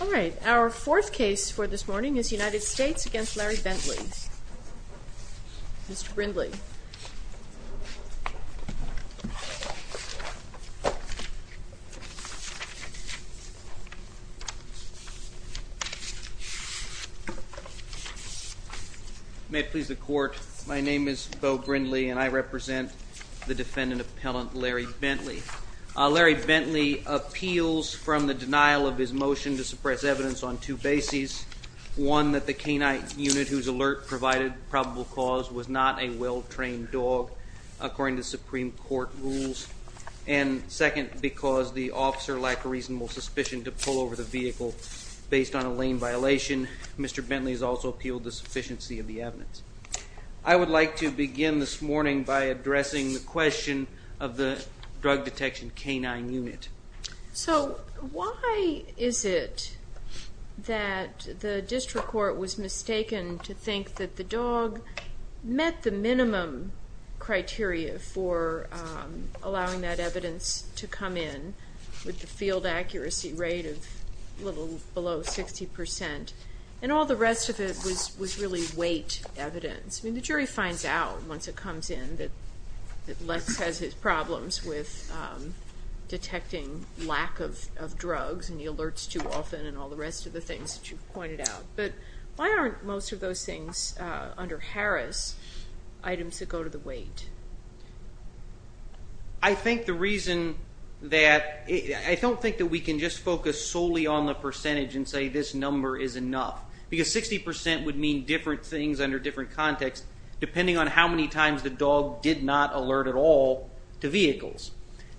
All right. Our fourth case for this morning is United States v. Larry Bentley. Mr. Brindley. May it please the Court, my name is Beau Brindley and I represent the defendant appellant Larry Bentley. Larry Bentley appeals from the denial of his motion to suppress evidence on two bases. One, that the canine unit whose alert provided probable cause was not a well-trained dog, according to Supreme Court rules. And second, because the officer lacked a reasonable suspicion to pull over the vehicle based on a lane violation. Mr. Bentley has also appealed the sufficiency of the evidence. I would like to begin this morning by addressing the question of the drug detection canine unit. So why is it that the district court was mistaken to think that the dog met the minimum criteria for allowing that evidence to come in with the field accuracy rate of a little below 60% and all the rest of it was really weight evidence? I mean, the jury finds out once it comes in that Lex has his problems with detecting lack of drugs and he alerts too often and all the rest of the things that you've pointed out. But why aren't most of those things under Harris items that go to the weight? I think the reason that, I don't think that we can just focus solely on the percentage and say this number is enough. Because 60% would mean different things under different contexts depending on how many times the dog did not alert at all to vehicles.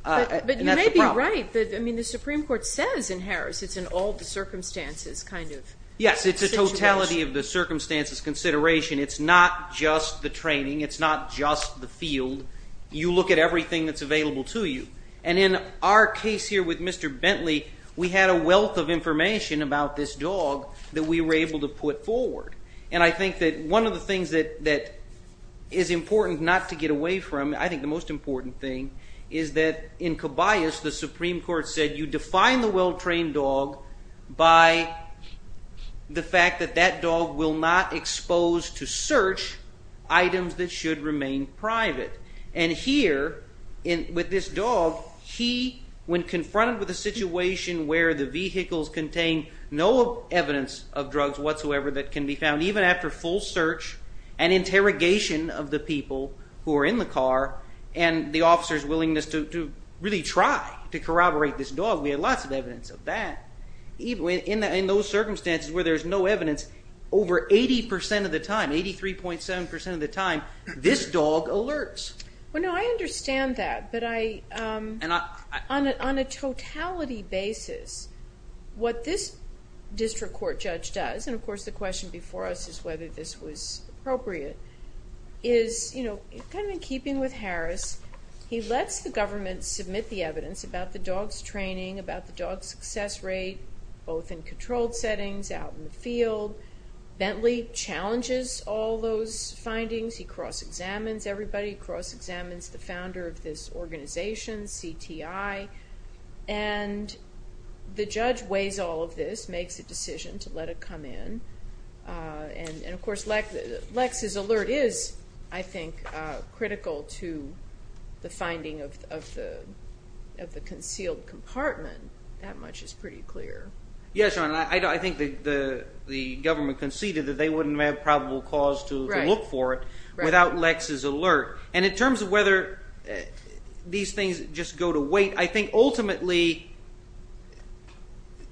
But you may be right, I mean the Supreme Court says in Harris it's an all the circumstances kind of situation. In the totality of the circumstances consideration, it's not just the training, it's not just the field. You look at everything that's available to you. And in our case here with Mr. Bentley, we had a wealth of information about this dog that we were able to put forward. And I think that one of the things that is important not to get away from, I think the most important thing, is that in Cabayas the Supreme Court said you define the well-trained dog by the fact that that dog will not expose to search items that should remain private. And here with this dog, he, when confronted with a situation where the vehicles contain no evidence of drugs whatsoever that can be found, even after full search and interrogation of the people who are in the car and the officer's willingness to really try to corroborate this dog, we had lots of evidence of that. In those circumstances where there's no evidence, over 80% of the time, 83.7% of the time, this dog alerts. Well, no, I understand that. But on a totality basis, what this district court judge does, and of course the question before us is whether this was appropriate, is kind of in keeping with Harris, he lets the government submit the evidence about the dog's training, about the dog's success rate, both in controlled settings, out in the field. Bentley challenges all those findings. He cross-examines everybody. He cross-examines the founder of this organization, CTI. And the judge weighs all of this, makes a decision to let it come in. And, of course, Lex's alert is, I think, critical to the finding of the concealed compartment. That much is pretty clear. Yes, Your Honor. I think the government conceded that they wouldn't have probable cause to look for it without Lex's alert. And in terms of whether these things just go to wait, I think ultimately,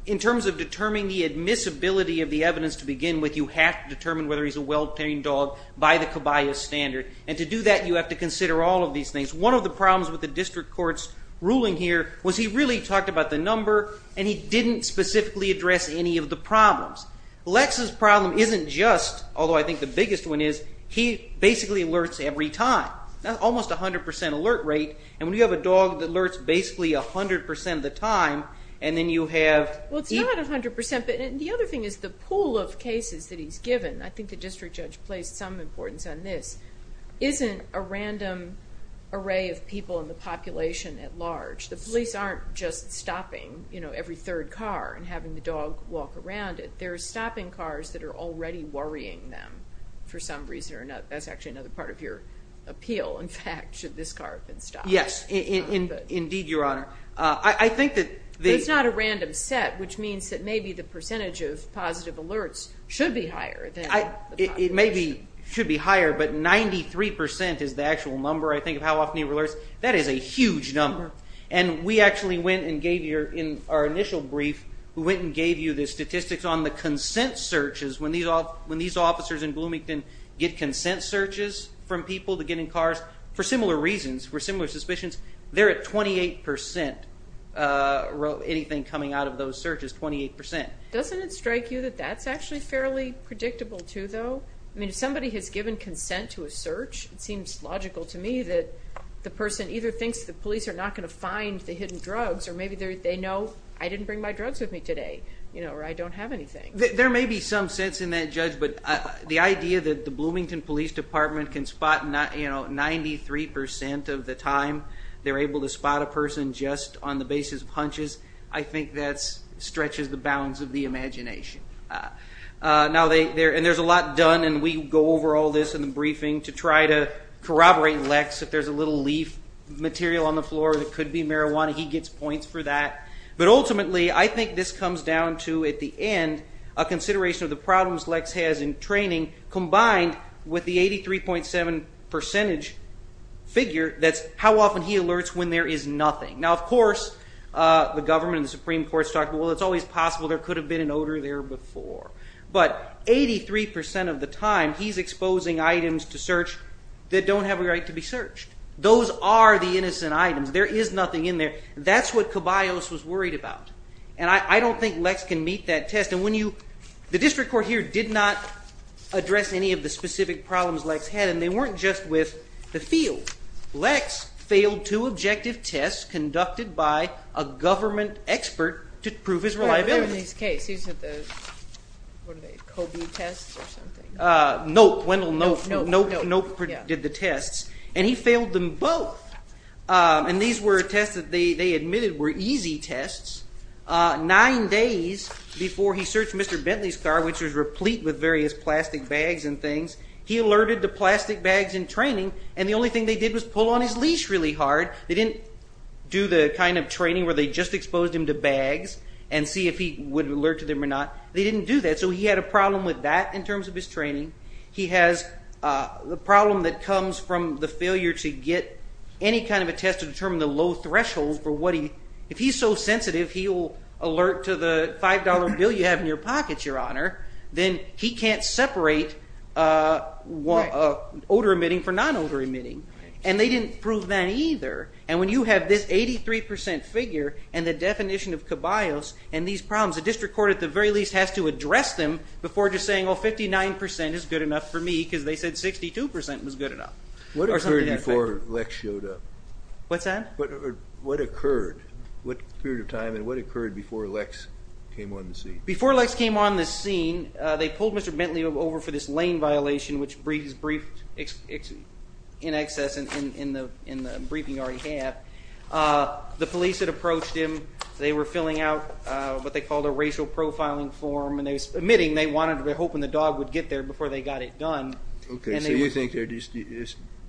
in terms of determining the admissibility of the evidence to begin with, you have to determine whether he's a well-trained dog by the CABAYA standard. And to do that, you have to consider all of these things. One of the problems with the district court's ruling here was he really talked about the number, and he didn't specifically address any of the problems. Lex's problem isn't just, although I think the biggest one is, he basically alerts every time. That's almost 100 percent alert rate. And when you have a dog that alerts basically 100 percent of the time, and then you have – Well, it's not 100 percent, but the other thing is the pool of cases that he's given. I think the district judge placed some importance on this. Isn't a random array of people in the population at large – the police aren't just stopping every third car and having the dog walk around it. They're stopping cars that are already worrying them for some reason or another. That's actually another part of your appeal. In fact, should this car have been stopped? Yes, indeed, Your Honor. I think that the – But it's not a random set, which means that maybe the percentage of positive alerts should be higher than – It maybe should be higher, but 93 percent is the actual number, I think, of how often he alerts. That is a huge number. And we actually went and gave you, in our initial brief, we went and gave you the statistics on the consent searches. When these officers in Bloomington get consent searches from people to get in cars, for similar reasons, for similar suspicions, they're at 28 percent. Anything coming out of those searches, 28 percent. Doesn't it strike you that that's actually fairly predictable, too, though? I mean, if somebody has given consent to a search, it seems logical to me that the person either thinks the police are not going to find the hidden drugs or maybe they know, I didn't bring my drugs with me today, or I don't have anything. There may be some sense in that, Judge, but the idea that the Bloomington Police Department can spot 93 percent of the time they're able to spot a person just on the basis of hunches, I think that stretches the bounds of the imagination. And there's a lot done, and we go over all this in the briefing to try to corroborate Lex. If there's a little leaf material on the floor that could be marijuana, he gets points for that. But ultimately, I think this comes down to, at the end, a consideration of the problems Lex has in training, combined with the 83.7 percentage figure, that's how often he alerts when there is nothing. Now, of course, the government and the Supreme Court has talked about, well, it's always possible there could have been an odor there before. But 83 percent of the time, he's exposing items to search that don't have a right to be searched. Those are the innocent items. There is nothing in there. That's what Caballos was worried about. And I don't think Lex can meet that test. And the district court here did not address any of the specific problems Lex had, and they weren't just with the field. Lex failed two objective tests conducted by a government expert to prove his reliability. In this case, he said the COBE tests or something. Nope, Wendell, nope. Nope did the tests. And he failed them both. And these were tests that they admitted were easy tests. Nine days before he searched Mr. Bentley's car, which was replete with various plastic bags and things, he alerted the plastic bags in training, and the only thing they did was pull on his leash really hard. They didn't do the kind of training where they just exposed him to bags and see if he would alert to them or not. They didn't do that. So he had a problem with that in terms of his training. He has the problem that comes from the failure to get any kind of a test to determine the low threshold for what he, if he's so sensitive, he will alert to the $5 bill you have in your pocket, Your Honor. Then he can't separate odor emitting from non-odor emitting. And they didn't prove that either. And when you have this 83% figure and the definition of cabios and these problems, the district court at the very least has to address them before just saying, oh, 59% is good enough for me because they said 62% was good enough. What occurred before Lex showed up? What's that? What occurred? What period of time and what occurred before Lex came on the scene? They pulled Mr. Bentley over for this lane violation, which is briefed in excess in the briefing you already have. The police had approached him. They were filling out what they called a racial profiling form, and they were admitting they wanted to be hoping the dog would get there before they got it done. Okay, so you think they're just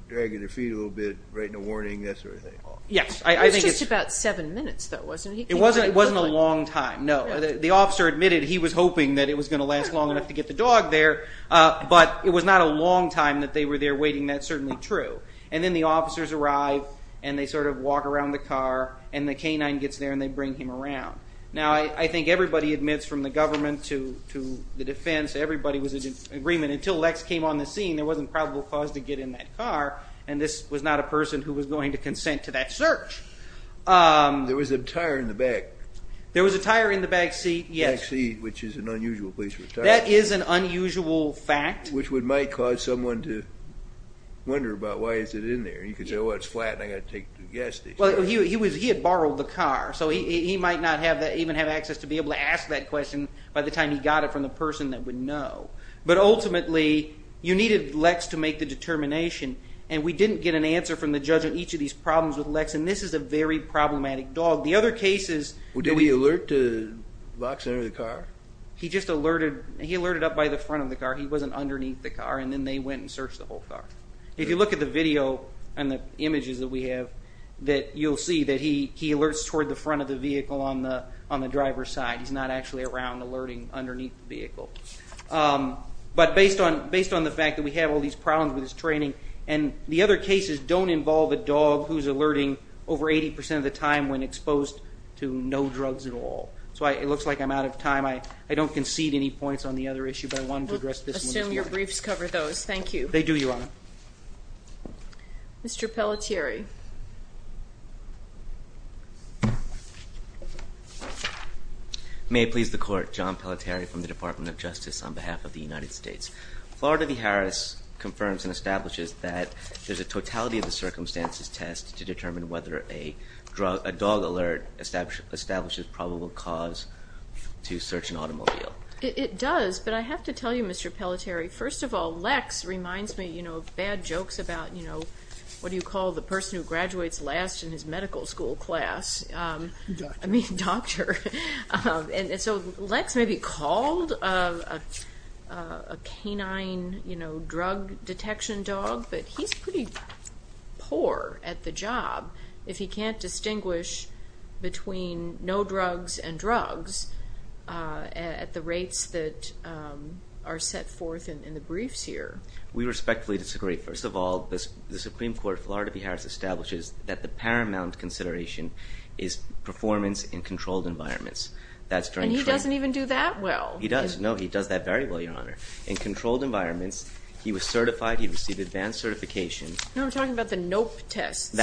dragging their feet a little bit, writing a warning, that sort of thing? Yes. It was just about seven minutes, though, wasn't it? It wasn't a long time, no. The officer admitted he was hoping that it was going to last long enough to get the dog there, but it was not a long time that they were there waiting. That's certainly true. And then the officers arrive, and they sort of walk around the car, and the canine gets there, and they bring him around. Now, I think everybody admits from the government to the defense, everybody was in agreement until Lex came on the scene, there wasn't probable cause to get in that car, and this was not a person who was going to consent to that search. There was a tire in the back. There was a tire in the back seat, yes. Back seat, which is an unusual place for a tire. That is an unusual fact. Which might cause someone to wonder about why is it in there. You could say, well, it's flat, and I've got to take the gas station. Well, he had borrowed the car, so he might not even have access to be able to ask that question by the time he got it from the person that would know. But ultimately, you needed Lex to make the determination, and we didn't get an answer from the judge on each of these problems with Lex, and this is a very problematic dog. The other cases... Well, did he alert to Lex under the car? He just alerted. He alerted up by the front of the car. He wasn't underneath the car, and then they went and searched the whole car. If you look at the video and the images that we have, you'll see that he alerts toward the front of the vehicle on the driver's side. He's not actually around alerting underneath the vehicle. But based on the fact that we have all these problems with his training, and the other cases don't involve a dog who's alerting over 80% of the time when exposed to no drugs at all. So it looks like I'm out of time. I don't concede any points on the other issue, but I wanted to address this one. We'll assume your briefs cover those. Thank you. They do, Your Honor. Mr. Pelletieri. May it please the Court, John Pelletieri from the Department of Justice on behalf of the United States. Florida v. Harris confirms and establishes that there's a totality of the circumstances test to determine whether a dog alert establishes probable cause to search an automobile. It does, but I have to tell you, Mr. Pelletieri, first of all Lex reminds me of bad jokes about, you know, what do you call the person who graduates last in his medical school class? Doctor. I mean doctor. And so Lex may be called a canine drug detection dog, but he's pretty poor at the job if he can't distinguish between no drugs and drugs at the rates that are set forth in the briefs here. We respectfully disagree. First of all, the Supreme Court of Florida v. Harris establishes that the paramount consideration is performance in controlled environments. And he doesn't even do that well. No, he does that very well, Your Honor. In controlled environments, he was certified. He received advanced certification. No, I'm talking about the NOPE test.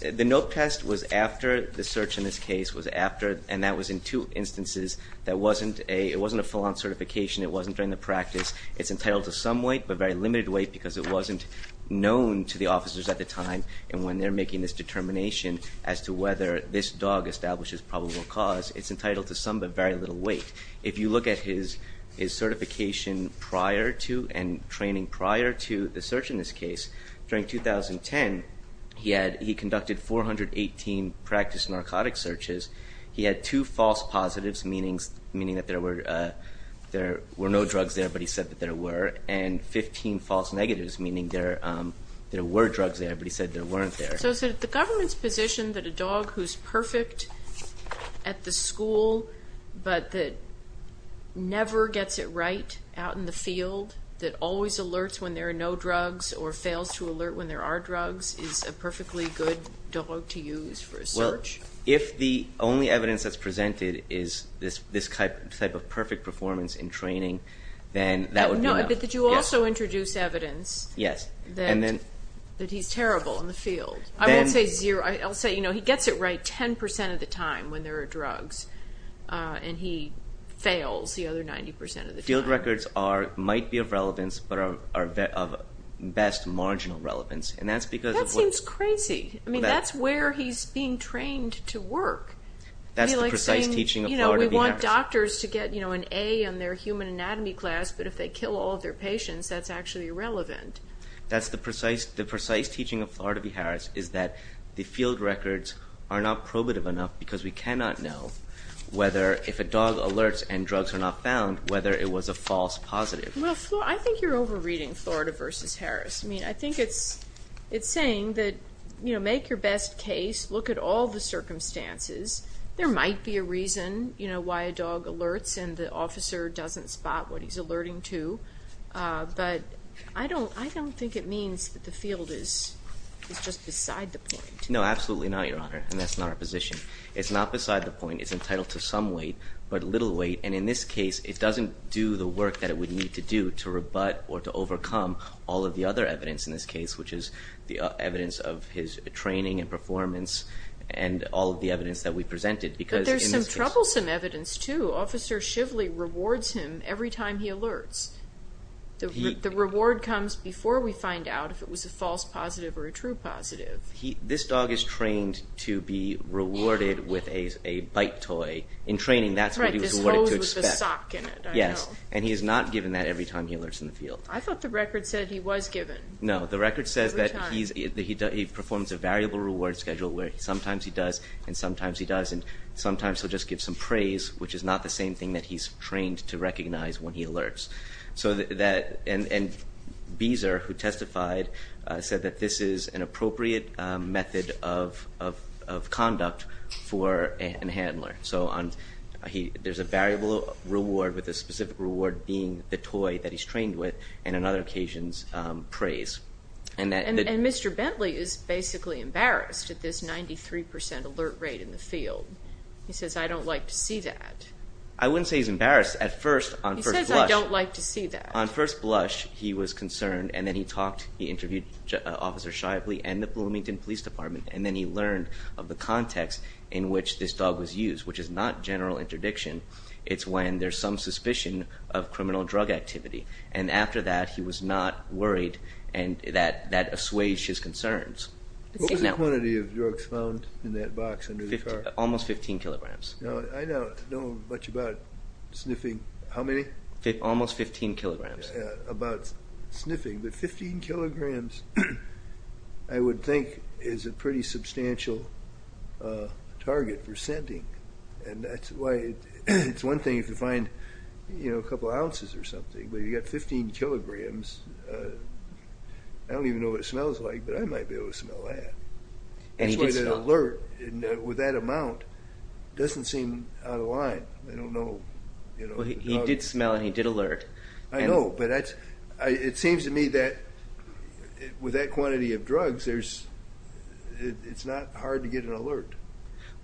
The NOPE test was after the search in this case was after, and that was in two instances that wasn't a full-on certification. It wasn't during the practice. It's entitled to some weight, but very limited weight, because it wasn't known to the officers at the time. And when they're making this determination as to whether this dog establishes probable cause, it's entitled to some but very little weight. If you look at his certification prior to and training prior to the search in this case, during 2010 he conducted 418 practice narcotic searches. He had two false positives, meaning that there were no drugs there, but he said that there were, and 15 false negatives, meaning there were drugs there, but he said there weren't there. So is it the government's position that a dog who's perfect at the school but that never gets it right out in the field, that always alerts when there are no drugs or fails to alert when there are drugs, is a perfectly good dog to use for a search? Well, if the only evidence that's presented is this type of perfect performance in training, then that would be no. No, but did you also introduce evidence that he's terrible in the field? I won't say zero. I'll say he gets it right 10% of the time when there are drugs and he fails the other 90% of the time. Field records might be of relevance but are of best marginal relevance. That seems crazy. I mean, that's where he's being trained to work. That's the precise teaching of Florida B. Harris. We want doctors to get an A in their human anatomy class, but if they kill all of their patients, that's actually irrelevant. That's the precise teaching of Florida B. Harris, is that the field records are not probative enough because we cannot know whether if a dog alerts and drugs are not found, whether it was a false positive. Well, I think you're over-reading Florida v. Harris. I mean, I think it's saying that make your best case, look at all the circumstances. There might be a reason why a dog alerts and the officer doesn't spot what he's alerting to, but I don't think it means that the field is just beside the point. No, absolutely not, Your Honor, and that's not our position. It's not beside the point. It's entitled to some weight but little weight, and in this case it doesn't do the work that it would need to do to rebut or to overcome all of the other evidence in this case, which is the evidence of his training and performance and all of the evidence that we presented. But there's some troublesome evidence too. Officer Shively rewards him every time he alerts. The reward comes before we find out if it was a false positive or a true positive. This dog is trained to be rewarded with a bite toy. In training, that's what he was rewarded to expect. Right, this hose with the sock in it, I know. Yes, and he is not given that every time he alerts in the field. I thought the record said he was given. No, the record says that he performs a variable reward schedule where sometimes he does and sometimes he doesn't. It's not the same thing that he's trained to recognize when he alerts. And Beezer, who testified, said that this is an appropriate method of conduct for a handler. So there's a variable reward with a specific reward being the toy that he's trained with and on other occasions praise. And Mr. Bentley is basically embarrassed at this 93% alert rate in the field. He says, I don't like to see that. I wouldn't say he's embarrassed. He says, I don't like to see that. On first blush, he was concerned, and then he talked. He interviewed Officer Shively and the Bloomington Police Department, and then he learned of the context in which this dog was used, which is not general interdiction. It's when there's some suspicion of criminal drug activity. And after that, he was not worried, and that assuaged his concerns. What was the quantity of drugs found in that box under the car? Almost 15 kilograms. I don't know much about sniffing. How many? Almost 15 kilograms. About sniffing. But 15 kilograms, I would think, is a pretty substantial target for scenting. And that's why it's one thing if you find a couple ounces or something, but if you've got 15 kilograms, I don't even know what it smells like, but I might be able to smell that. That's why the alert with that amount doesn't seem out of line. I don't know. He did smell and he did alert. I know, but it seems to me that with that quantity of drugs, it's not hard to get an alert.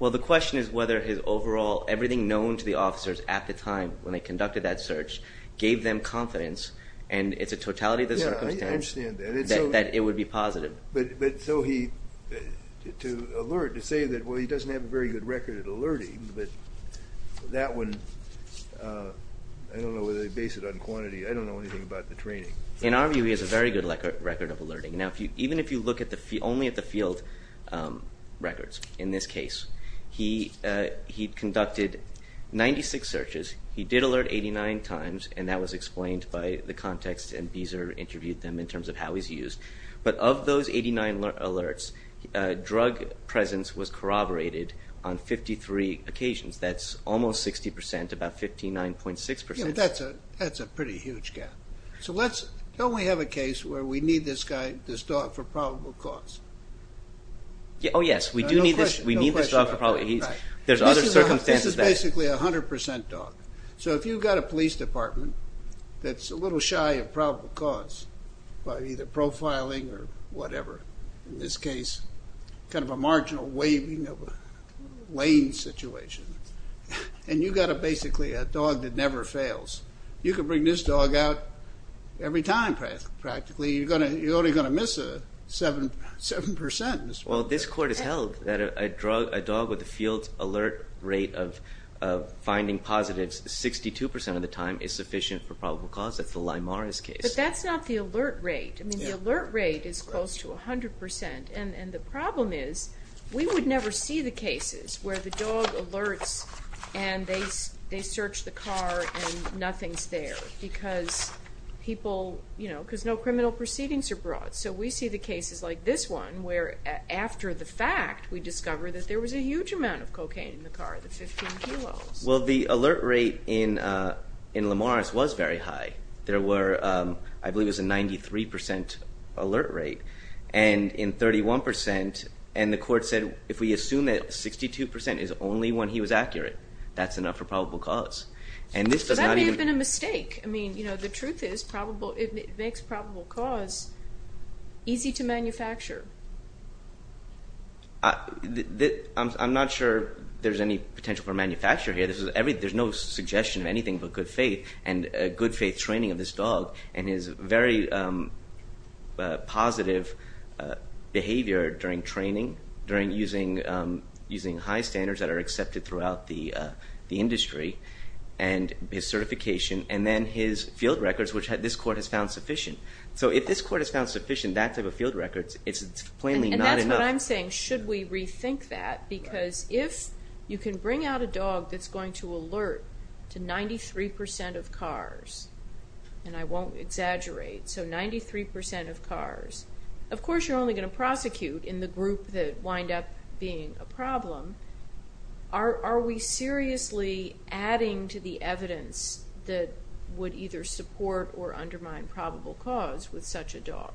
Well, the question is whether his overall, everything known to the officers at the time when they conducted that search, gave them confidence, and it's a totality of the circumstance, that it would be positive. But so he, to alert, to say that, well, he doesn't have a very good record of alerting, but that one, I don't know whether they base it on quantity. I don't know anything about the training. In our view, he has a very good record of alerting. Now, even if you look only at the field records in this case, he conducted 96 searches. He did alert 89 times, and that was explained by the context, and Beezer interviewed them in terms of how he's used. But of those 89 alerts, drug presence was corroborated on 53 occasions. That's almost 60%, about 59.6%. Yeah, but that's a pretty huge gap. So let's, don't we have a case where we need this guy, this dog, for probable cause? Oh, yes, we do need this dog for probable cause. There's other circumstances. This is basically a 100% dog. So if you've got a police department that's a little shy of probable cause, by either profiling or whatever, in this case, kind of a marginal waving of a lane situation, and you've got basically a dog that never fails, you can bring this dog out every time, practically. You're only going to miss 7%. Well, this court has held that a dog with a field alert rate of finding positives 62% of the time is sufficient for probable cause. That's the Lymaris case. But that's not the alert rate. I mean, the alert rate is close to 100%. And the problem is we would never see the cases where the dog alerts and they search the car and nothing's there because people, you know, because no criminal proceedings are brought. So we see the cases like this one where, after the fact, we discover that there was a huge amount of cocaine in the car, the 15 kilos. Well, the alert rate in Lymaris was very high. There were, I believe it was a 93% alert rate. And in 31%, and the court said if we assume that 62% is only when he was accurate, that's enough for probable cause. So that may have been a mistake. I mean, you know, the truth is it makes probable cause easy to manufacture. I'm not sure there's any potential for manufacture here. There's no suggestion of anything but good faith, and good faith training of this dog, and his very positive behavior during training, during using high standards that are accepted throughout the industry, and his certification, and then his field records, which this court has found sufficient. So if this court has found sufficient, that type of field records, it's plainly not enough. And that's what I'm saying, should we rethink that? Because if you can bring out a dog that's going to alert to 93% of cars, and I won't exaggerate, so 93% of cars, of course you're only going to prosecute in the group that wind up being a problem. Are we seriously adding to the evidence that would either support or undermine probable cause with such a dog?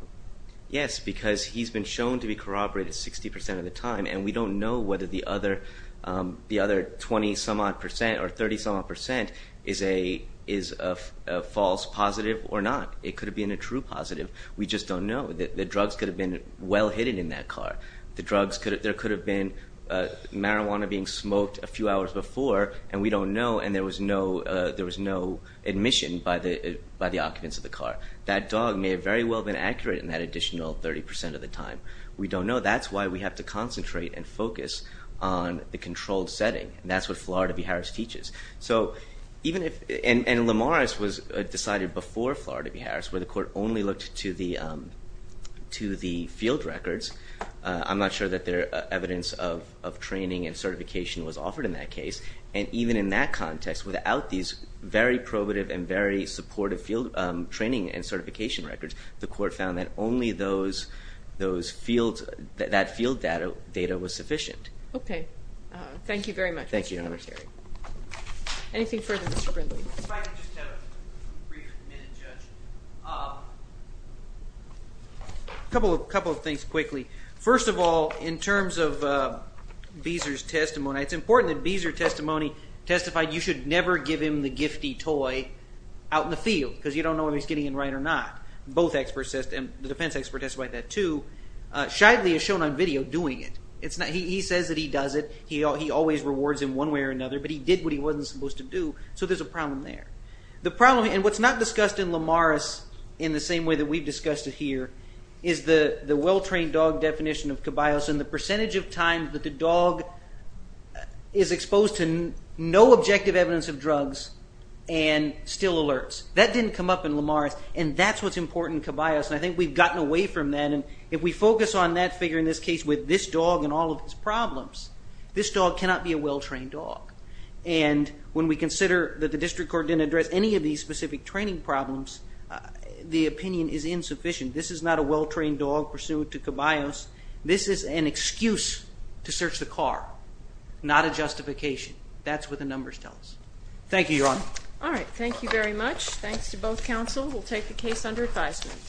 Yes, because he's been shown to be corroborated 60% of the time, and we don't know whether the other 20-some-odd percent or 30-some-odd percent is a false positive or not. It could have been a true positive. We just don't know. The drugs could have been well hidden in that car. There could have been marijuana being smoked a few hours before, and we don't know, and there was no admission by the occupants of the car. That dog may have very well been accurate in that additional 30% of the time. We don't know. That's why we have to concentrate and focus on the controlled setting, and that's what Florida v. Harris teaches. And Lemaris was decided before Florida v. Harris where the court only looked to the field records. I'm not sure that evidence of training and certification was offered in that case, and even in that context, without these very probative and very supportive field training and certification records, the court found that only that field data was sufficient. Okay. Thank you very much. Thank you, Your Honor. Anything further, Mr. Brindley? If I could just have a brief minute, Judge. A couple of things quickly. First of all, in terms of Beezer's testimony, it's important that Beezer's testimony testified you should never give him the gifty toy out in the field because you don't know if he's getting it right or not. The defense expert testified that too. Shively is shown on video doing it. He says that he does it. He always rewards him one way or another, but he did what he wasn't supposed to do, so there's a problem there. What's not discussed in Lemaris in the same way that we've discussed it here is the well-trained dog definition of cabios and the percentage of times that the dog is exposed to no objective evidence of drugs and still alerts. That didn't come up in Lemaris, and that's what's important in cabios, and I think we've gotten away from that. If we focus on that figure in this case with this dog and all of his problems, this dog cannot be a well-trained dog. And when we consider that the district court didn't address any of these specific training problems, the opinion is insufficient. This is not a well-trained dog pursuant to cabios. This is an excuse to search the car, not a justification. That's what the numbers tell us. Thank you, Your Honor. All right. Thank you very much. Thanks to both counsel. We'll take the case under advisement.